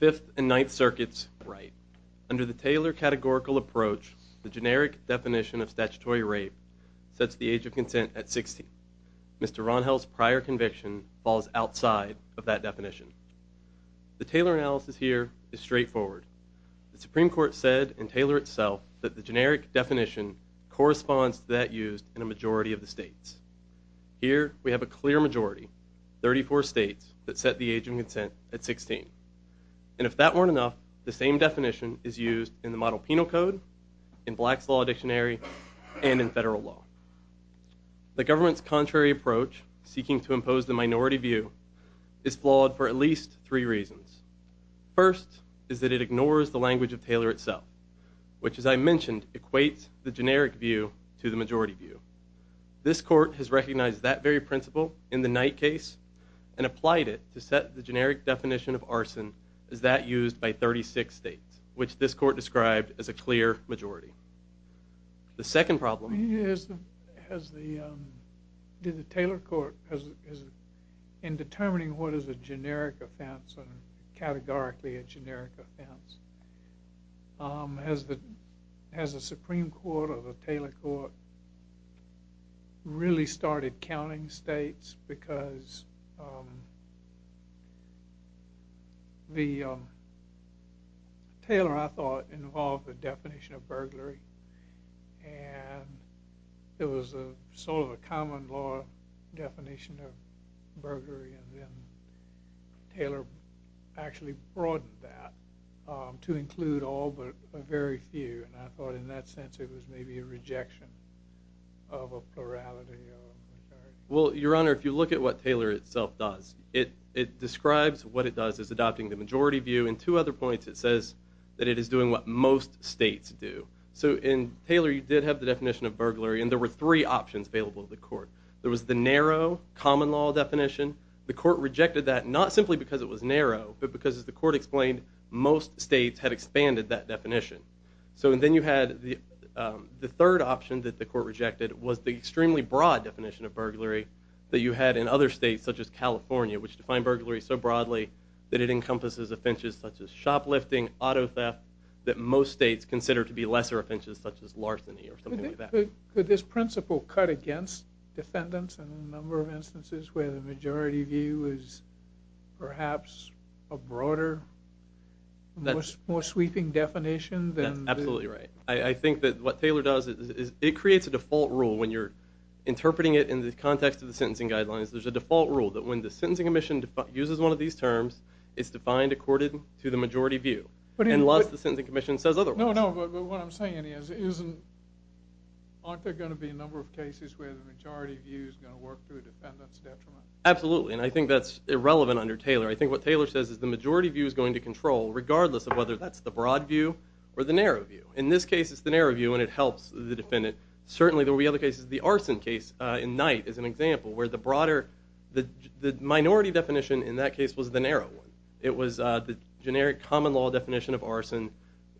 5th and 9th Circuits Right Under the Taylor Categorical Approach, the age of consent at 16. Mr. Rangel's prior conviction falls outside of that definition. The Taylor analysis here is straightforward. The Supreme Court said in Taylor itself that the generic definition corresponds to that used in a majority of the states. Here, we have a clear majority, 34 states that set the age of consent at 16. And if that weren't enough, the same definition is used in the Model Penal Code, in Black's Law Dictionary, and in federal law. The government's contrary approach, seeking to impose the minority view, is flawed for at least three reasons. First is that it ignores the language of Taylor itself, which as I mentioned equates the generic view to the majority view. This court has recognized that very principle in the Knight case and applied it to set the generic definition of arson as that used by 36 states, which this court described as a clear majority. The second problem is, in determining what is a generic offense or categorically a generic offense, has the Supreme Court or the Taylor Court really started counting states because the Taylor, I thought, involved the definition of burglary. And it was a sort of a common law definition of burglary. And then Taylor actually broadened that to include all but a very few. And I thought in that sense it was maybe a rejection of a plurality. Well your honor, if you look at what Taylor itself does, it describes what it does is adopting the majority view. In two other points it says that it is doing what most states do. So in Taylor you did have the definition of burglary and there were three options available to the court. There was the narrow common law definition. The court rejected that not simply because it was narrow, but because as the court explained, most states had expanded that definition. So then you had the third option that the court rejected was the extremely broad definition of burglary that you had in other states such as California, which defined burglary so broadly that it encompasses offenses such as shoplifting, auto theft, that most states consider to be lesser offenses such as larceny or something like that. Could this principle cut against defendants in a majority view is perhaps a broader, more sweeping definition? That's absolutely right. I think that what Taylor does is it creates a default rule when you're interpreting it in the context of the sentencing guidelines. There's a default rule that when the sentencing commission uses one of these terms, it's defined according to the majority view. And lots of the sentencing commission says otherwise. No, no, but what I'm saying is isn't, aren't there going to be a number of cases where the majority view is going to work to a defendant's detriment? Absolutely, and I think that's irrelevant under Taylor. I think what Taylor says is the majority view is going to control regardless of whether that's the broad view or the narrow view. In this case, it's the narrow view and it helps the defendant. Certainly there will be other cases. The arson case in Knight is an example where the broader, the minority definition in that case was the narrow one. It was the generic common law definition of arson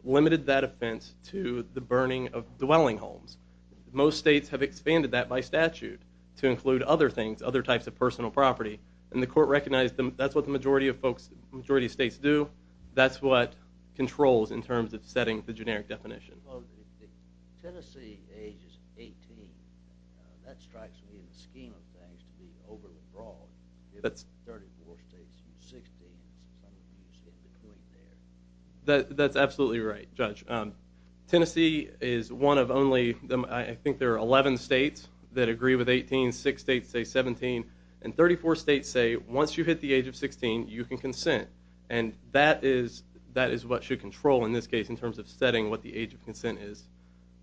limited that offense to the burning of dwelling homes. Most states have expanded that by statute to include other things, other types of personal property, and the court recognized them. That's what the majority of folks, majority states do. That's what controls in terms of setting the generic definition. Well, Tennessee age is 18. That strikes me in the scheme of things to be overly broad. That's 34 states, 16. That's absolutely right, Judge. Tennessee is one of only, I think there are 11 states that agree with 18. Six states say 17, and 34 states say once you hit the age of 16, you can consent, and that is what should control in this case in terms of setting what the age of consent is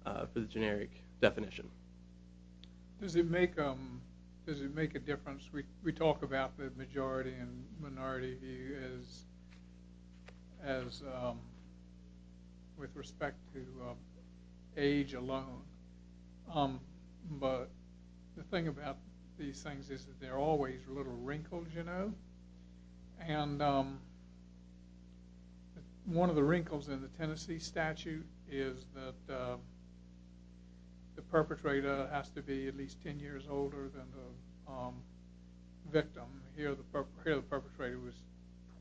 for the generic definition. Does it make a difference? We talk about the majority and minority view as with respect to age alone, but the thing about these things is that there are always little wrinkles, you know, and one of the wrinkles in the Tennessee system, here the perpetrator was 28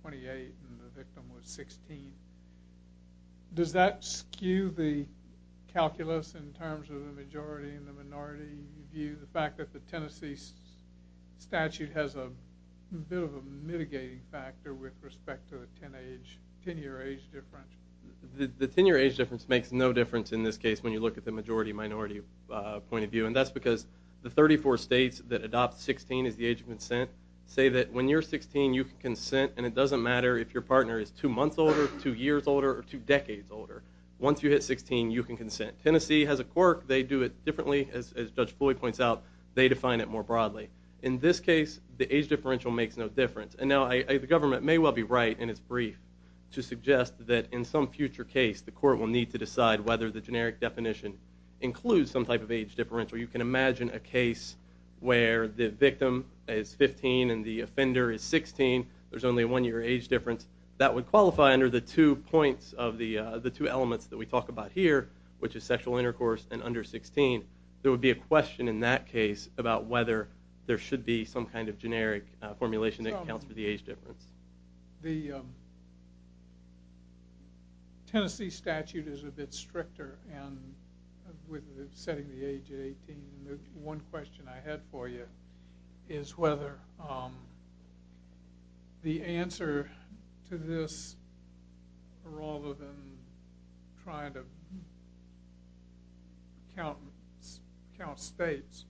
and the victim was 16. Does that skew the calculus in terms of the majority and the minority view, the fact that the Tennessee statute has a bit of a mitigating factor with respect to a 10-year age difference? The 10-year age difference makes no difference in this case when you look at the majority-minority point of view, and that's because the 34 states that adopt 16 as the age of consent say that when you're 16, you can consent, and it doesn't matter if your partner is two months older, two years older, or two decades older. Once you hit 16, you can consent. Tennessee has a quirk. They do it differently, as Judge Floyd points out. They define it more broadly. In this case, the age differential makes no difference, and now the government may well be right in its brief to suggest that in some future case, the court will need to decide whether the generic definition includes some type of age differential. You can imagine a case where the victim is 15 and the offender is 16. There's only a one-year age difference. That would qualify under the two elements that we talk about here, which is sexual intercourse and under 16. There would be a question in that case about whether there should be some kind of generic formulation that accounts for the age difference. The Tennessee statute is a bit stricter with setting the age at 18, and one question I had for you is whether the answer to this, rather than trying to count states,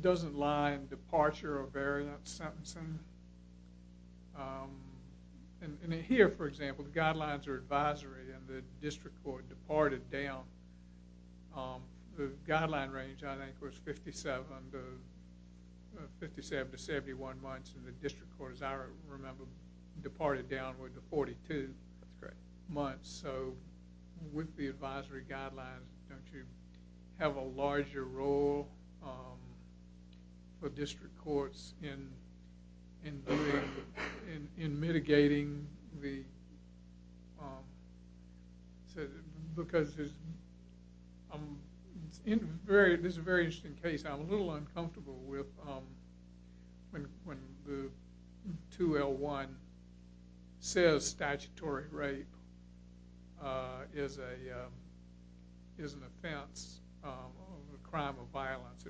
doesn't lie in the statute. Here, for example, the guidelines are advisory and the district court departed down. The guideline range, I think, was 57 to 71 months, and the district court, as I remember, departed downward to 42 months. With the advisory guidelines, don't you have a larger role for district courts in mitigating the... Because this is a very interesting case. I'm a little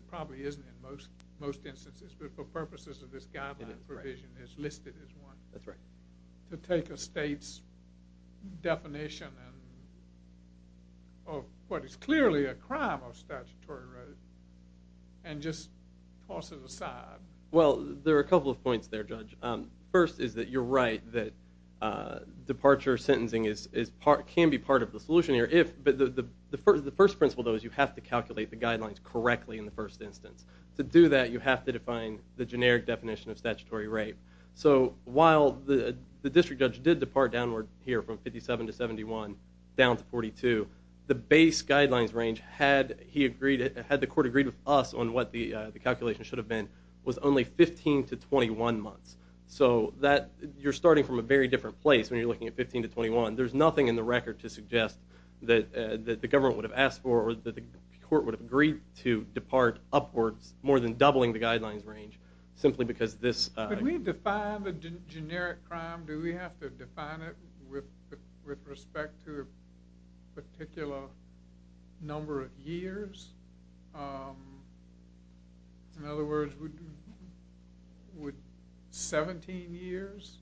probably isn't in most instances, but for purposes of this guideline provision, it's listed as one. To take a state's definition of what is clearly a crime of statutory right and just toss it aside. Well, there are a couple of points there, Judge. First is that you're right that departure sentencing can be part of the solution here. The first principle, though, is you have to calculate the guidelines correctly in the first instance. To do that, you have to define the generic definition of statutory right. While the district judge did depart downward here from 57 to 71 down to 42, the base guidelines range, had the court agreed with us on what the calculation should have been, was only 15 to 21 months. You're starting from a very different place when you're looking at 15 to 21. There's nothing in the record to suggest that the court would have agreed to depart upwards more than doubling the guidelines range, simply because this... Could we define the generic crime? Do we have to define it with respect to a particular number of years? In other words, would 17 years?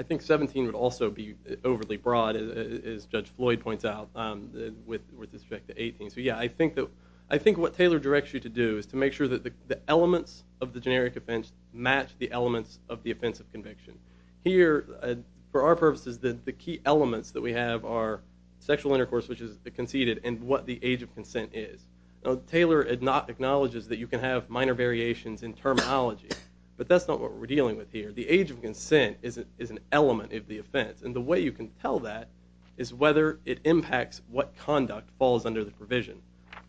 I think 17 would also be overly broad, as Judge Floyd points out, with respect to 18. I think what Taylor directs you to do is to make sure that the elements of the generic offense match the elements of the offense of conviction. Here, for our purposes, the key elements that we have are sexual intercourse, which is conceded, and what the age of consent is. Taylor acknowledges that you can have minor variations in terminology, but that's not what we're dealing with here. The age of consent is an element of the offense, and the way you can tell that is whether it impacts what conduct falls under the provision.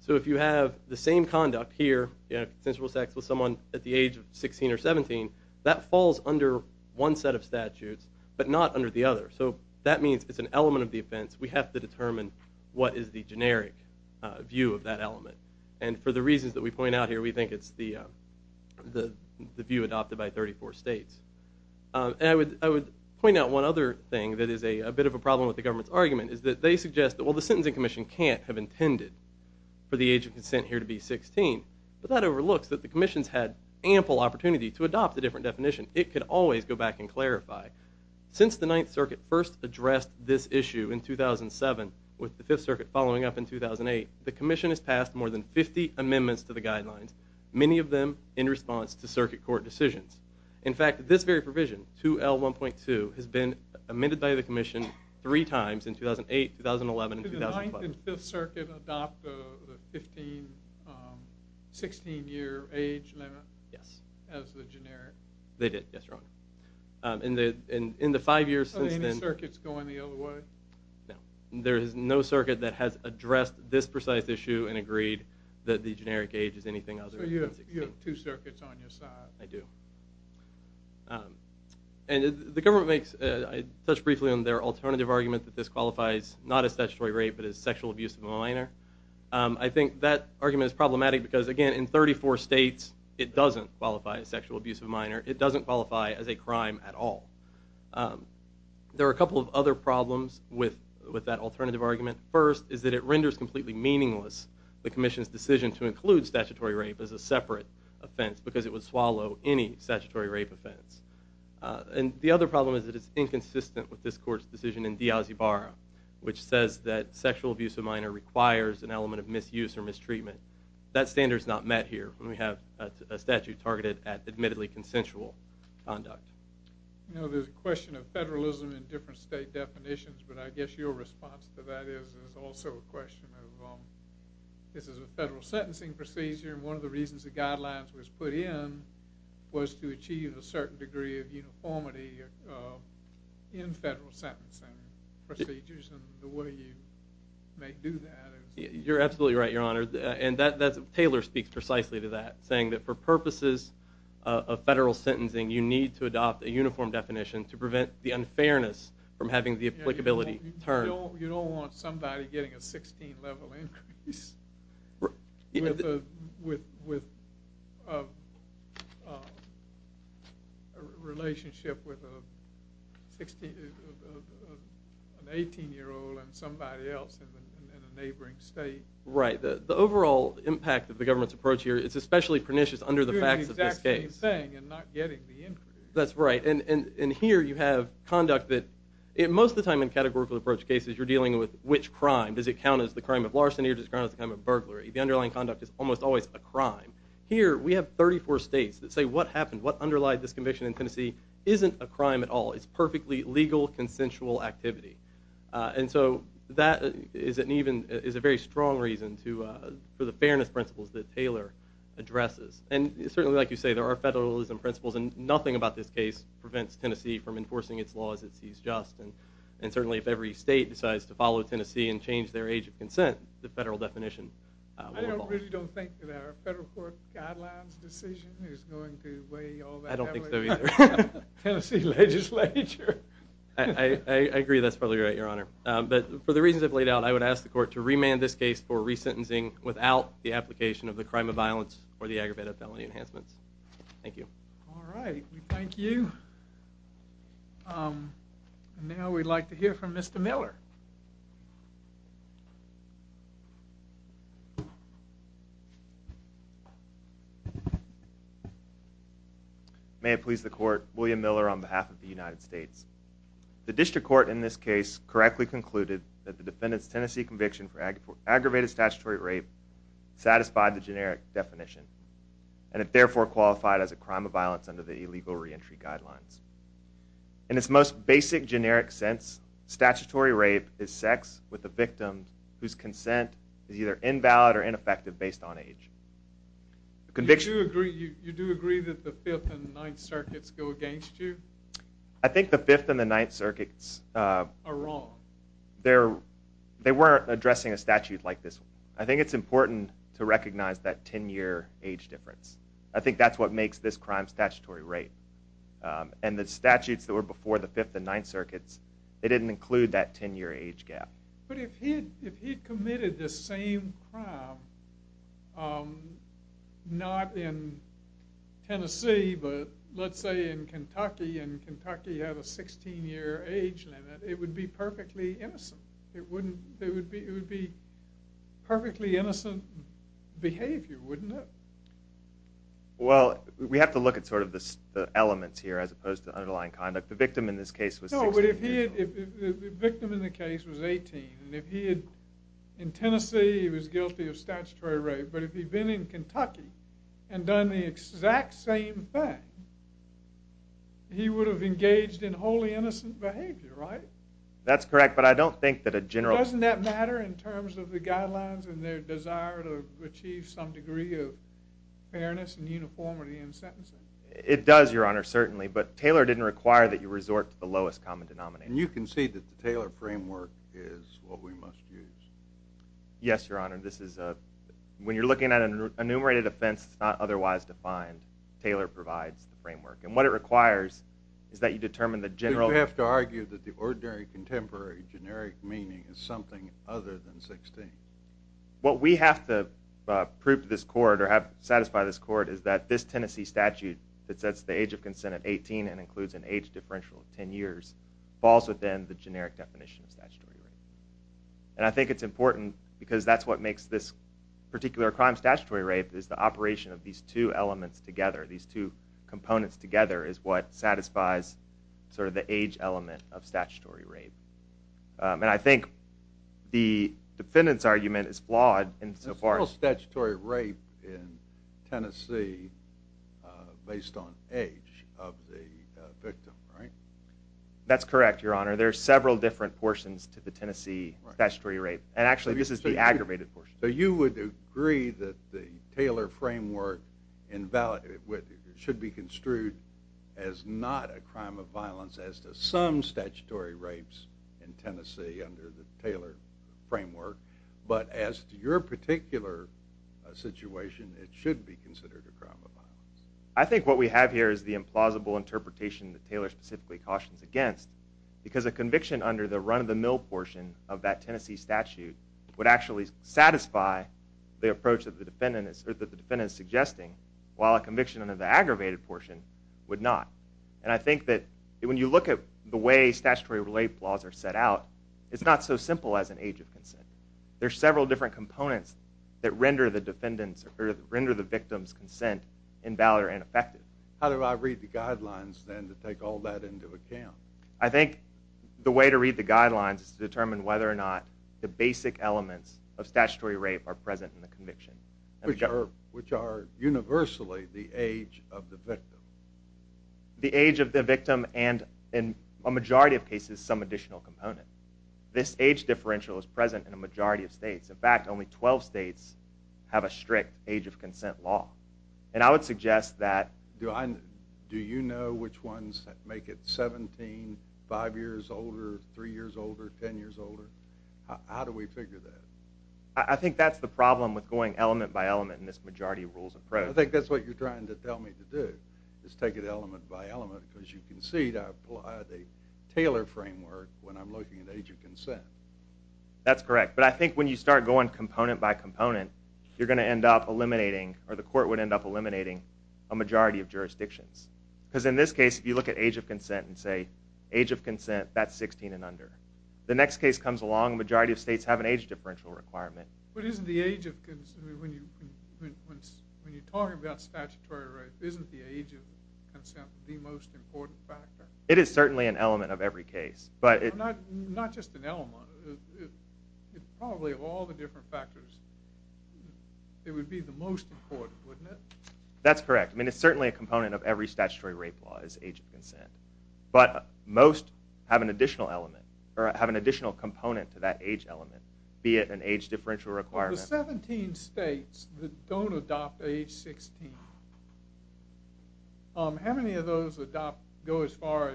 If you have the same conduct here, you have consensual sex with someone at the age of 16 or 17, that falls under one set of statutes, but not under the other. That means it's an element of the offense. We have to determine what is the generic view of that element, and for the reasons that we point out here, we think it's the view adopted by 34 states. I would point out one other thing that is a bit of a problem with the government's argument is that they suggest that, well, the Sentencing Commission can't have intended for the age of consent here to be 16, but that overlooks that the commissions had ample opportunity to adopt a different definition. It could always go back and clarify. Since the commission has passed more than 50 amendments to the guidelines, many of them in response to circuit court decisions. In fact, this very provision, 2L1.2, has been amended by the commission three times in 2008, 2011, and 2012. Did the 9th and 5th Circuit adopt the 16-year age limit as the generic? They did, yes, Your Honor. In the five years since then... Are any circuits going the other way? No. There is no circuit that has addressed this precise issue and agreed that the generic age is anything other than 16. So you have two circuits on your side? I do. And the government makes, I touched briefly on their alternative argument that this qualifies not as statutory rape, but as sexual abuse of a minor. I think that argument is problematic because, again, in 34 states it doesn't qualify as sexual abuse of a minor. It doesn't qualify as a crime at all. There are a couple of other problems with that alternative argument. First, is that it renders completely meaningless the commission's decision to include statutory rape as a separate offense because it would swallow any statutory rape offense. And the other problem is that it's inconsistent with this court's decision in Diaz-Ibarra, which says that sexual abuse of a minor requires an element of misuse or mistreatment. That standard is not met here when you have a statute targeted at admittedly consensual conduct. There's a question of federalism in different state definitions, but I guess your response to that is also a question of this is a federal sentencing procedure and one of the reasons the guidelines was put in was to achieve a certain degree of uniformity in federal sentencing procedures and the way you do that. You're absolutely right, Your Honor, and Taylor speaks precisely to that, saying that for purposes of federal sentencing you need to adopt a uniform definition to prevent the unfairness from having the applicability term. You don't want somebody getting a 16 level increase with a relationship with an 18 year old and somebody else in a neighboring state. Right, the overall impact of the government's approach here is especially pernicious under the facts of this case. Doing the exact same thing and not getting the increase. That's right, and here you have conduct that most of the time in categorical approach cases you're the crime of larceny or the crime of burglary. The underlying conduct is almost always a crime. Here we have 34 states that say what happened, what underlied this conviction in Tennessee isn't a crime at all. It's perfectly legal consensual activity and so that is a very strong reason for the fairness principles that Taylor addresses and certainly like you say there are federalism principles and nothing about this case prevents Tennessee from enforcing its laws it sees just and certainly if every state decides to follow Tennessee and change their age of consent the federal definition. I really don't think that our federal court guidelines decision is going to weigh all that heavily on the Tennessee legislature. I agree that's probably right your honor but for the reasons I've laid out I would ask the court to remand this case for resentencing without the application of the crime of violence or the aggravated felony enhancements. Thank you. All right, we thank you. Now we'd like to hear from Mr. Miller. May it please the court, William Miller on behalf of the United States. The district court in this case correctly concluded that the defendant's Tennessee conviction for aggravated statutory rape satisfied the generic definition and it therefore qualified as a crime of violence under the illegal re-entry guidelines. In its most basic generic sense statutory rape is sex with the victim whose consent is either invalid or ineffective based on age. You do agree that the fifth and ninth circuits go against you? I think the fifth and the ninth circuits are wrong. They're they weren't addressing a statute like this. I think it's important to recognize that 10 year age difference. I think that's what makes this crime statutory rape and the statutes that were before the fifth and ninth circuits they didn't include that 10 year age gap. But if he if he committed the same crime um not in Tennessee but let's say in Kentucky and Kentucky had a 16 year age limit it would be perfectly innocent. It wouldn't it would be it would be perfectly innocent behavior wouldn't it? Well we have to look at sort of the elements here as opposed to underlying conduct. The victim in the case was 18 and if he had in Tennessee he was guilty of statutory rape but if he'd been in Kentucky and done the exact same thing he would have engaged in wholly innocent behavior right? That's correct but I don't think that a general doesn't that matter in terms of the guidelines and their desire to achieve some degree of fairness and uniformity in sentencing? It does your honor certainly but Taylor didn't require that you resort to the lowest common denominator. And you can see that the Taylor framework is what we must use? Yes your honor this is a when you're looking at an enumerated offense it's not otherwise defined. Taylor provides the framework and what it requires is that you determine the general. Do you have to argue that the ordinary contemporary generic meaning is something other than 16? What we have to prove to this court or have satisfy this court is that this Tennessee statute that sets the age of consent at 18 and includes an age differential of 10 years falls within the generic definition of statutory rape. And I think it's important because that's what makes this particular crime statutory rape is the operation of these two elements together. These two components together is what satisfies sort of the age element of statutory rape. And I think the defendant's in so far as statutory rape in Tennessee based on age of the victim right? That's correct your honor there are several different portions to the Tennessee statutory rape and actually this is the aggravated portion. So you would agree that the Taylor framework invalid with it should be construed as not a crime of violence as to some statutory rapes in Tennessee under the Taylor framework but as to your particular situation it should be considered a crime of violence. I think what we have here is the implausible interpretation that Taylor specifically cautions against because a conviction under the run of the mill portion of that Tennessee statute would actually satisfy the approach that the defendant is or that the defendant is suggesting while a conviction under the aggravated portion would not. And I think that when you look at the way statutory rape laws are set out it's not so simple as an age of consent. There's several different components that render the defendant's or render the victim's consent invalid or ineffective. How do I read the guidelines then to take all that into account? I think the way to read the guidelines is to determine whether or not the basic elements of statutory rape are present in the conviction. Which are universally the age of the victim. The age of the victim and in a majority of cases some additional component. This age differential is present in a majority of states. In fact only 12 states have a strict age of consent law. And I would suggest that. Do you know which ones make it 17, 5 years older, 3 years older, 10 years older? How do we figure that? I think that's the I think that's what you're trying to tell me to do is take it element by element because you can see that I apply the Taylor framework when I'm looking at age of consent. That's correct but I think when you start going component by component you're going to end up eliminating or the court would end up eliminating a majority of jurisdictions. Because in this case if you look at age of consent and say age of consent that's 16 and under. The next case comes along a majority of states have an age differential requirement. But isn't the age of when you're talking about statutory rape isn't the age of consent the most important factor? It is certainly an element of every case. But it's not just an element it's probably of all the different factors it would be the most important wouldn't it? That's correct I mean it's certainly a component of every statutory rape law is age of consent. But most have an additional element or have an additional component to that age element be it an age differential requirement. The 17 states that don't adopt age 16. How many of those adopt go as far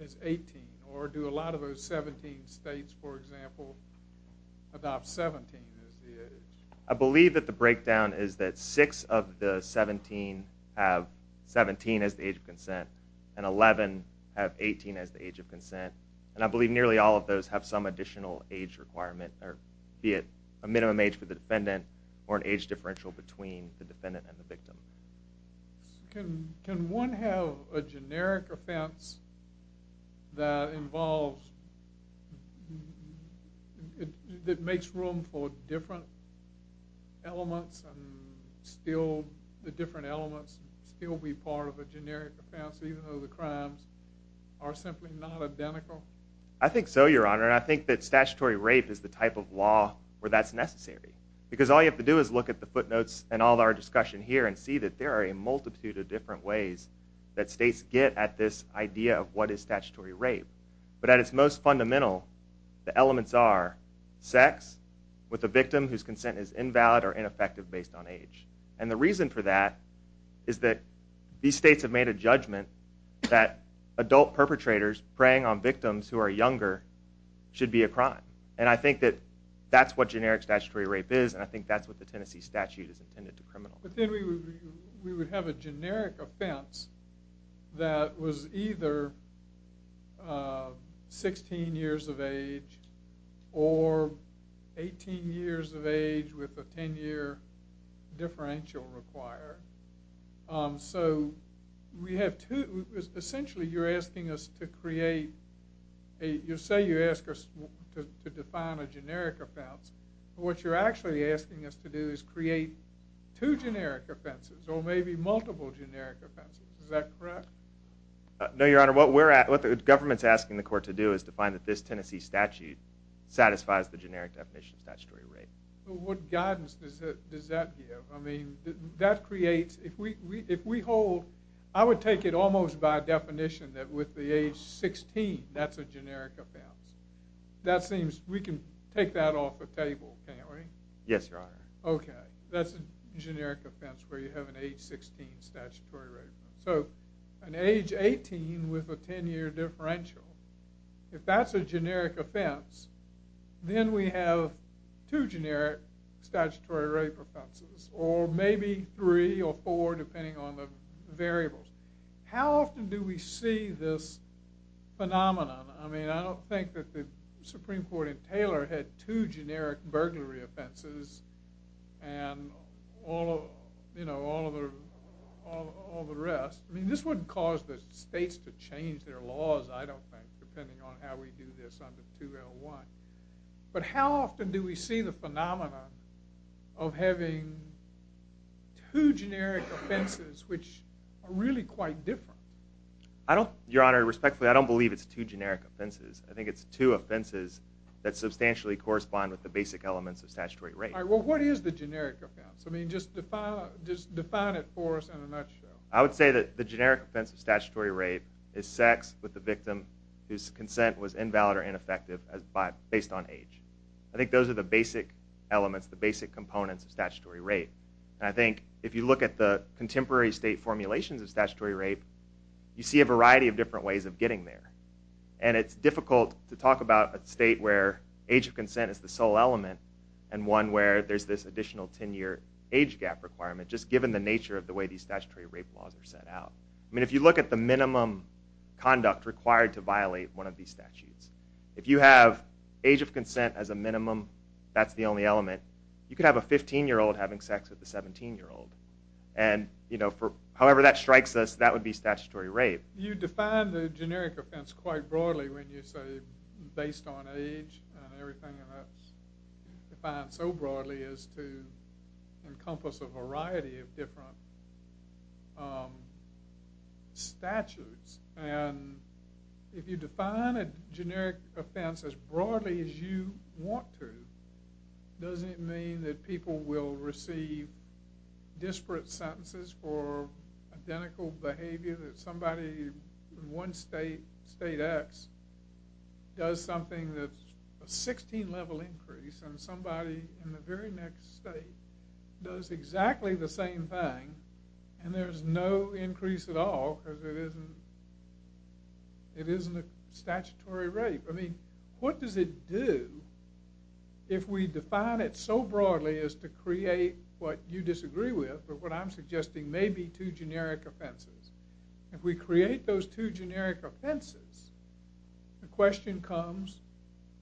as 18 or do a lot of those 17 states for example adopt 17 as the age? I believe that the breakdown is that six of the 17 have 17 as the age of consent and 11 have 18 as the age of consent. And I believe nearly all of those have some additional age requirement or be it a minimum age for the defendant or an age differential between the defendant and the victim. Can one have a generic offense that involves that makes room for different elements and still the different elements still be part of a generic offense even though the crimes are simply not identical? I think so your honor. I think that statutory rape is the type of law where that's necessary because all you have to do is look at the footnotes and all our discussion here and see that there are a multitude of different ways that states get at this idea of what is statutory rape. But at its most fundamental the elements are sex with the victim whose consent is invalid or ineffective based on age. And the reason for that is that these states have made a judgment that adult perpetrators preying on victims who are And I think that that's what generic statutory rape is and I think that's what the Tennessee statute is intended to criminalize. But then we would have a generic offense that was either 16 years of age or 18 years of age with a 10-year differential required. So we have two essentially you're asking us to create a you say you ask us to define a generic offense what you're actually asking us to do is create two generic offenses or maybe multiple generic offenses is that correct? No your honor what we're at what the government's asking the court to do is to find that this Tennessee statute satisfies the generic definition of statutory rape. What guidance does that give? I mean that creates if we hold I would take it almost by definition that with the age 16 that's a generic offense. That seems we can take that off the table can't we? Yes your honor. Okay that's a generic offense where you have an age 16 statutory rape so an age 18 with a 10-year differential if that's a generic offense then we have two generic statutory rape offenses or maybe three or four depending on the variables. How often do we see this phenomenon? I mean I don't think that the Supreme Court in Taylor had two generic burglary offenses and all you know all the all the rest I mean this wouldn't cause the states to change their laws I don't think depending on how we do this under 2L1 but how often do we see the phenomenon of having two generic offenses which are really quite different? I don't your honor respectfully I don't believe it's two generic offenses I think it's two offenses that substantially correspond with the basic elements of statutory rape. All right well what is the generic offense? I mean just define it for us in a nutshell. I would say that the generic offense of statutory rape is sex with the victim whose consent was invalid or ineffective as by based on age. I think those are the basic elements the basic components of statutory rape and I think if you look at the contemporary state formulations of statutory rape you see a variety of different ways of getting there and it's difficult to talk about a state where age of consent is the sole element and one where there's this additional 10 year age gap requirement just given the nature of the way these statutory rape laws are set out. I mean if you look at the minimum conduct required to violate one of these statutes if you have age of consent as a minimum that's the only element you could have a 15 year old having sex with a 17 year old and you know for however that strikes us that would be statutory rape. You define the generic offense quite broadly when you say based on age and everything and that's defined so broadly as to encompass a variety of different statutes and if you define a generic offense as broadly as you want to does it mean that people will receive disparate sentences for identical behavior that somebody in one state, state x, does something that's a 16 level increase and somebody in the very next state does exactly the same thing and there's no increase at all because it isn't statutory rape. I mean what does it do if we define it so broadly as to create what you disagree with or what I'm suggesting may be two generic offenses. If we create those two generic offenses the question comes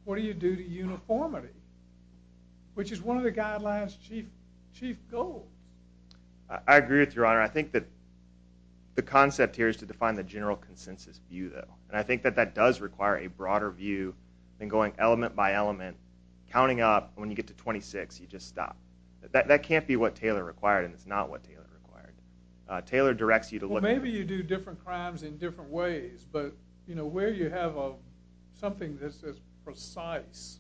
what do you do to uniformity which is one of the guidelines chief goal. I agree with your honor. I think that the concept here is to define the general consensus view though and I think that that does require a broader view than going element by element counting up when you get to 26 you just stop. That can't be what Taylor required and it's not what Taylor required. Taylor directs you to look maybe you do different crimes in different ways but you know where you have a something that's as precise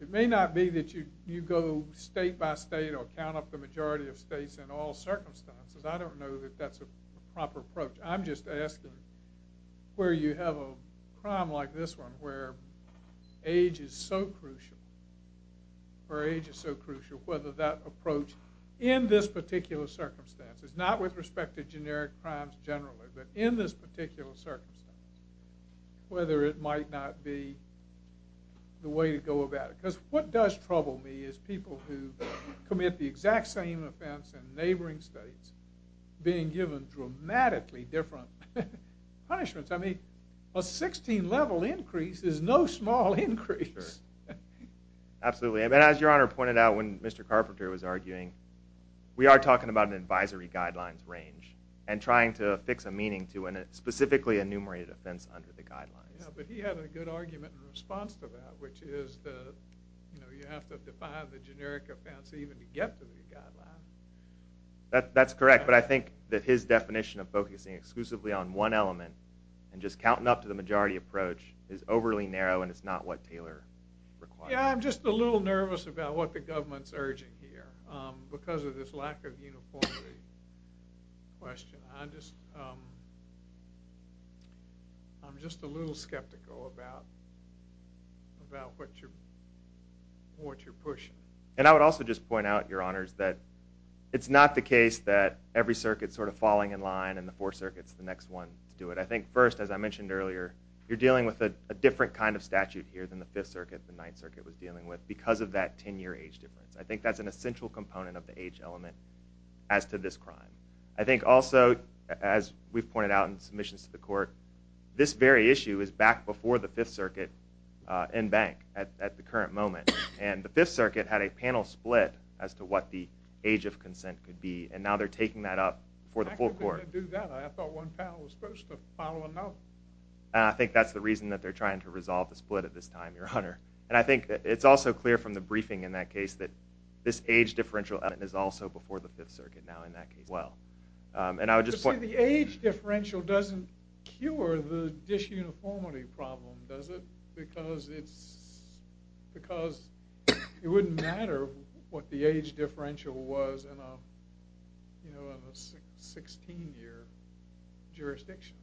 it may not be that you you go state by state or count up the majority of states in all circumstances. I don't know that that's a proper approach. I'm just asking where you have a crime like this one where age is so crucial or age is so crucial whether that approach in this particular circumstance is not with respect to generic crimes generally but in this particular circumstance whether it might not be the way to go about it because what does in neighboring states being given dramatically different punishments. I mean a 16 level increase is no small increase. Absolutely and as your honor pointed out when Mr. Carpenter was arguing we are talking about an advisory guidelines range and trying to fix a meaning to an specifically enumerated offense under the guidelines. Yeah but he had a good argument in response to that which is that you know you have to define the generic offense even to get to the guideline. That that's correct but I think that his definition of focusing exclusively on one element and just counting up to the majority approach is overly narrow and it's not what Taylor requires. Yeah I'm just a little nervous about what the government's urging here because of this lack of uniformity question. I just I'm just a little skeptical about about what you're what you're pushing. And I would also just point out your honors that it's not the case that every circuit sort of falling in line and the four circuits the next one to do it. I think first as I mentioned earlier you're dealing with a different kind of statute here than the fifth circuit the ninth circuit was dealing with because of that 10 year age difference. I think that's an essential component of the age element as to this crime. I think also as we've pointed out in submissions to the court this very issue is back before the fifth circuit in bank at the current moment and the fifth circuit had a panel split as to what the age of consent could be and now they're taking that up for the full court. I thought one panel was supposed to follow a note. I think that's the reason that they're trying to resolve the split at this time your honor and I think it's also clear from the is also before the fifth circuit now in that case well and I would just point the age differential doesn't cure the dish uniformity problem does it because it's because it wouldn't matter what the age differential was in a you know in a 16 year jurisdiction.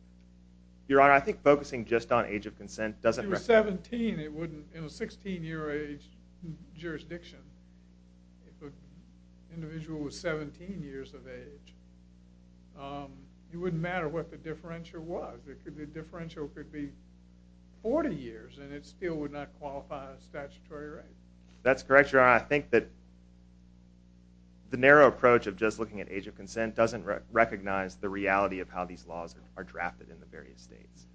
Your honor I think focusing just on age of consent doesn't 17 it wouldn't in a 16 year age jurisdiction if an individual was 17 years of age it wouldn't matter what the differential was it could the differential could be 40 years and it still would not qualify a statutory right. That's correct your honor I think that the narrow approach of just looking at age of consent doesn't recognize the reality of how these laws are drafted in the various states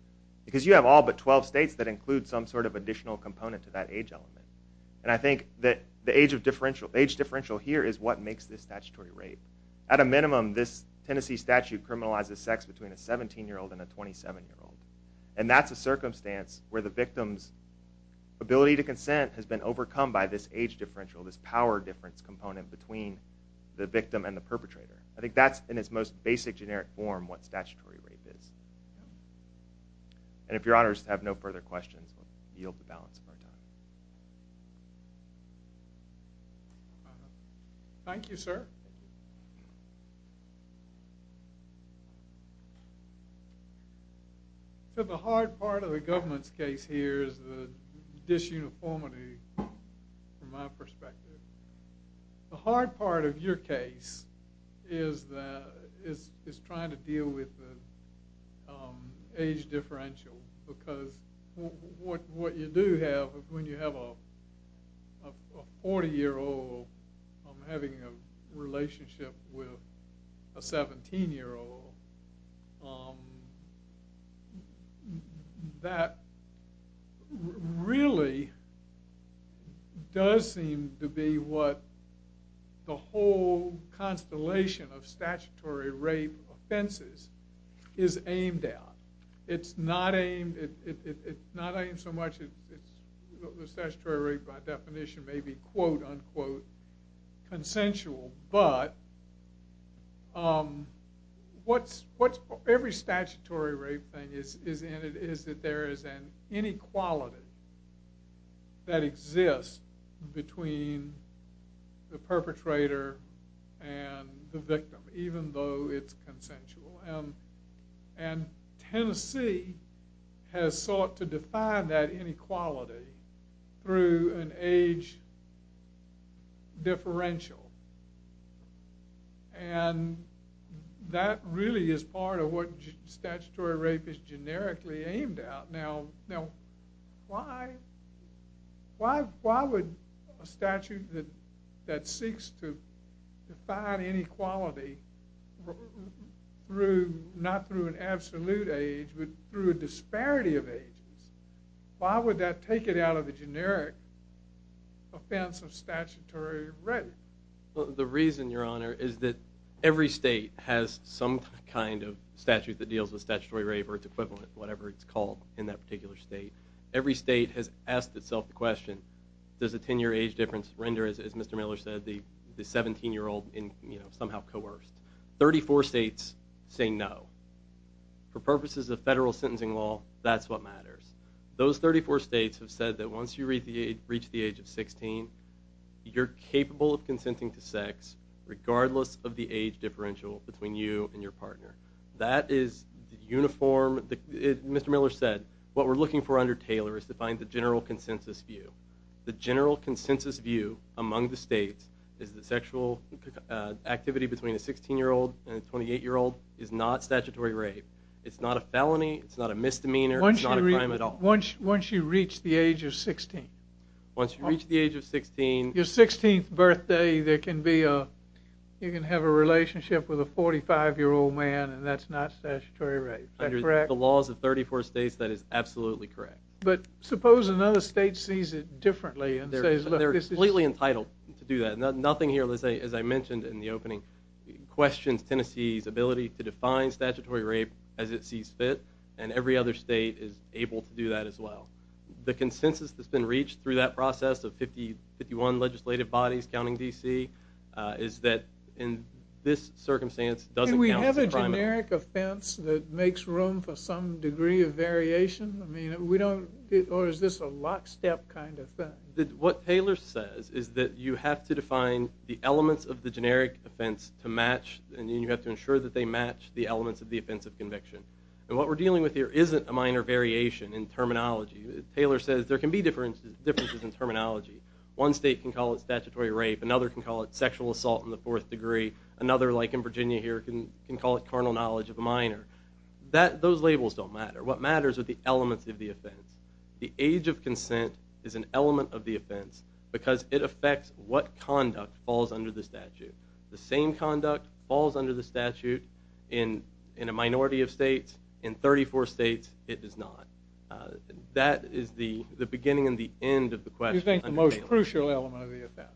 because you have all but 12 states that include some sort of additional component to that age element and I think that the age of differential age differential here is what makes this statutory rape. At a minimum this Tennessee statute criminalizes sex between a 17 year old and a 27 year old and that's a circumstance where the victim's ability to consent has been overcome by this age differential this power difference component between the victim and the perpetrator I think that's in its most basic generic form what statutory rape is. And if your honors have no further questions we'll yield the balance of our time. Thank you sir. So the hard part of the government's case here is the disuniformity from my perspective. The hard part of your case is that is trying to deal with the age differential because what you do have when you have a 40 year old having a relationship with a 17 year old that really does seem to be what the whole constellation of statutory rape offenses is aimed at. It's not aimed it's not aimed so much it's the statutory rape by definition may be quote unquote consensual but what's what every statutory rape thing is in it is that there is an inequality that exists between the perpetrator and the victim even though it's an age differential and that really is part of what statutory rape is generically aimed at. Now why would a statute that seeks to define inequality through not through an absolute age but through a disparity of ages why would that take it out of the generic offense of statutory rape? The reason your honor is that every state has some kind of statute that deals with statutory rape or its equivalent whatever it's called in that particular state. Every state has asked itself the question does a 10 year age difference render as Mr. Miller said the 17 year old in you know somehow coerced. 34 states say no. For purposes of federal sentencing law that's what matters. Those 34 states have said that once you reach the age of 16 you're capable of consenting to sex regardless of the age differential between you and your partner. That is the uniform that Mr. Miller said what we're looking for under Taylor is to find the general consensus view. The general consensus view among the states is that sexual activity between a 16 year old and a 28 year old is not statutory rape. It's not a felony. It's not a misdemeanor. It's not a crime at all. Once you reach the age of 16. Once you reach the age of 16. Your 16th birthday there can be a you can have a relationship with a 45 year old man and that's not statutory rape. Under the laws of 34 states that is absolutely correct. But suppose another state sees it differently. They're completely entitled to do that. Nothing here as I mentioned in the opening questions Tennessee's ability to define statutory rape as it sees fit and every other state is able to do that as well. The consensus that's been reached through that process of 50 51 legislative bodies counting D.C. is that in this circumstance doesn't we have a generic offense that makes room for some degree of variation? I mean we don't or is this a lockstep kind of thing? What Taylor says is that you have to define the elements of the generic offense to match and you have to ensure that they match the elements of the offense of conviction. And what we're dealing with here isn't a minor variation in terminology. Taylor says there can be differences in terminology. One state can call it statutory rape. Another can call it sexual assault in the fourth degree. Another like in Virginia here can call it carnal knowledge of a minor. Those labels don't matter. What matters are the elements of the offense. The age of consent is an element of the offense because it affects what conduct falls under the statute. The same conduct falls under the statute in a minority of states. In 34 states it does not. That is the beginning and the end of the question. You think the most crucial element of the offense?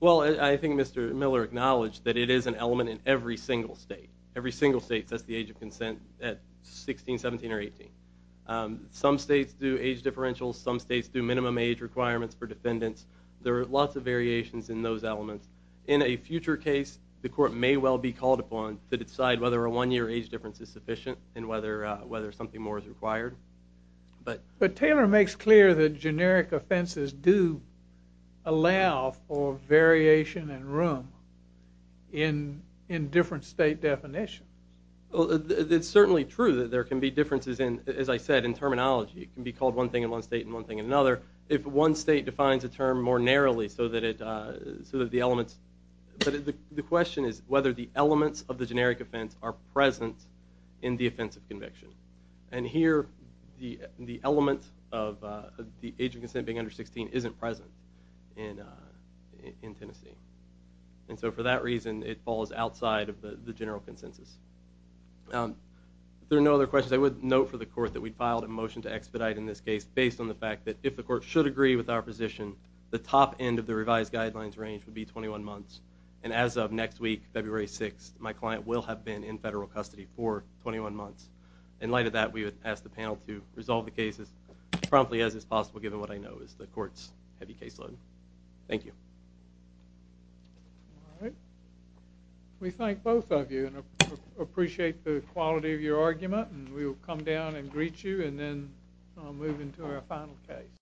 Well I think Mr. Taylor acknowledged that it is an element in every single state. Every single state sets the age of consent at 16, 17, or 18. Some states do age differentials. Some states do minimum age requirements for defendants. There are lots of variations in those elements. In a future case the court may well be called upon to decide whether a one-year age difference is sufficient and whether something more is required. But Taylor makes clear that generic offenses do allow for variation and room. In different state definitions. Well it's certainly true that there can be differences in as I said in terminology. It can be called one thing in one state and one thing in another. If one state defines a term more narrowly so that the elements, but the question is whether the elements of the generic offense are present in the offense of conviction. And here the element of the age of consent being under 16 isn't present in Tennessee. And so for that reason it falls outside of the general consensus. If there are no other questions I would note for the court that we filed a motion to expedite in this case based on the fact that if the court should agree with our position the top end of the revised guidelines range would be 21 months. And as of next week February 6th my client will have been in federal custody for 21 months. In promptly as is possible given what I know is the court's heavy caseload. Thank you. All right we thank both of you and appreciate the quality of your argument and we'll come down and greet you and then I'll move into our final case.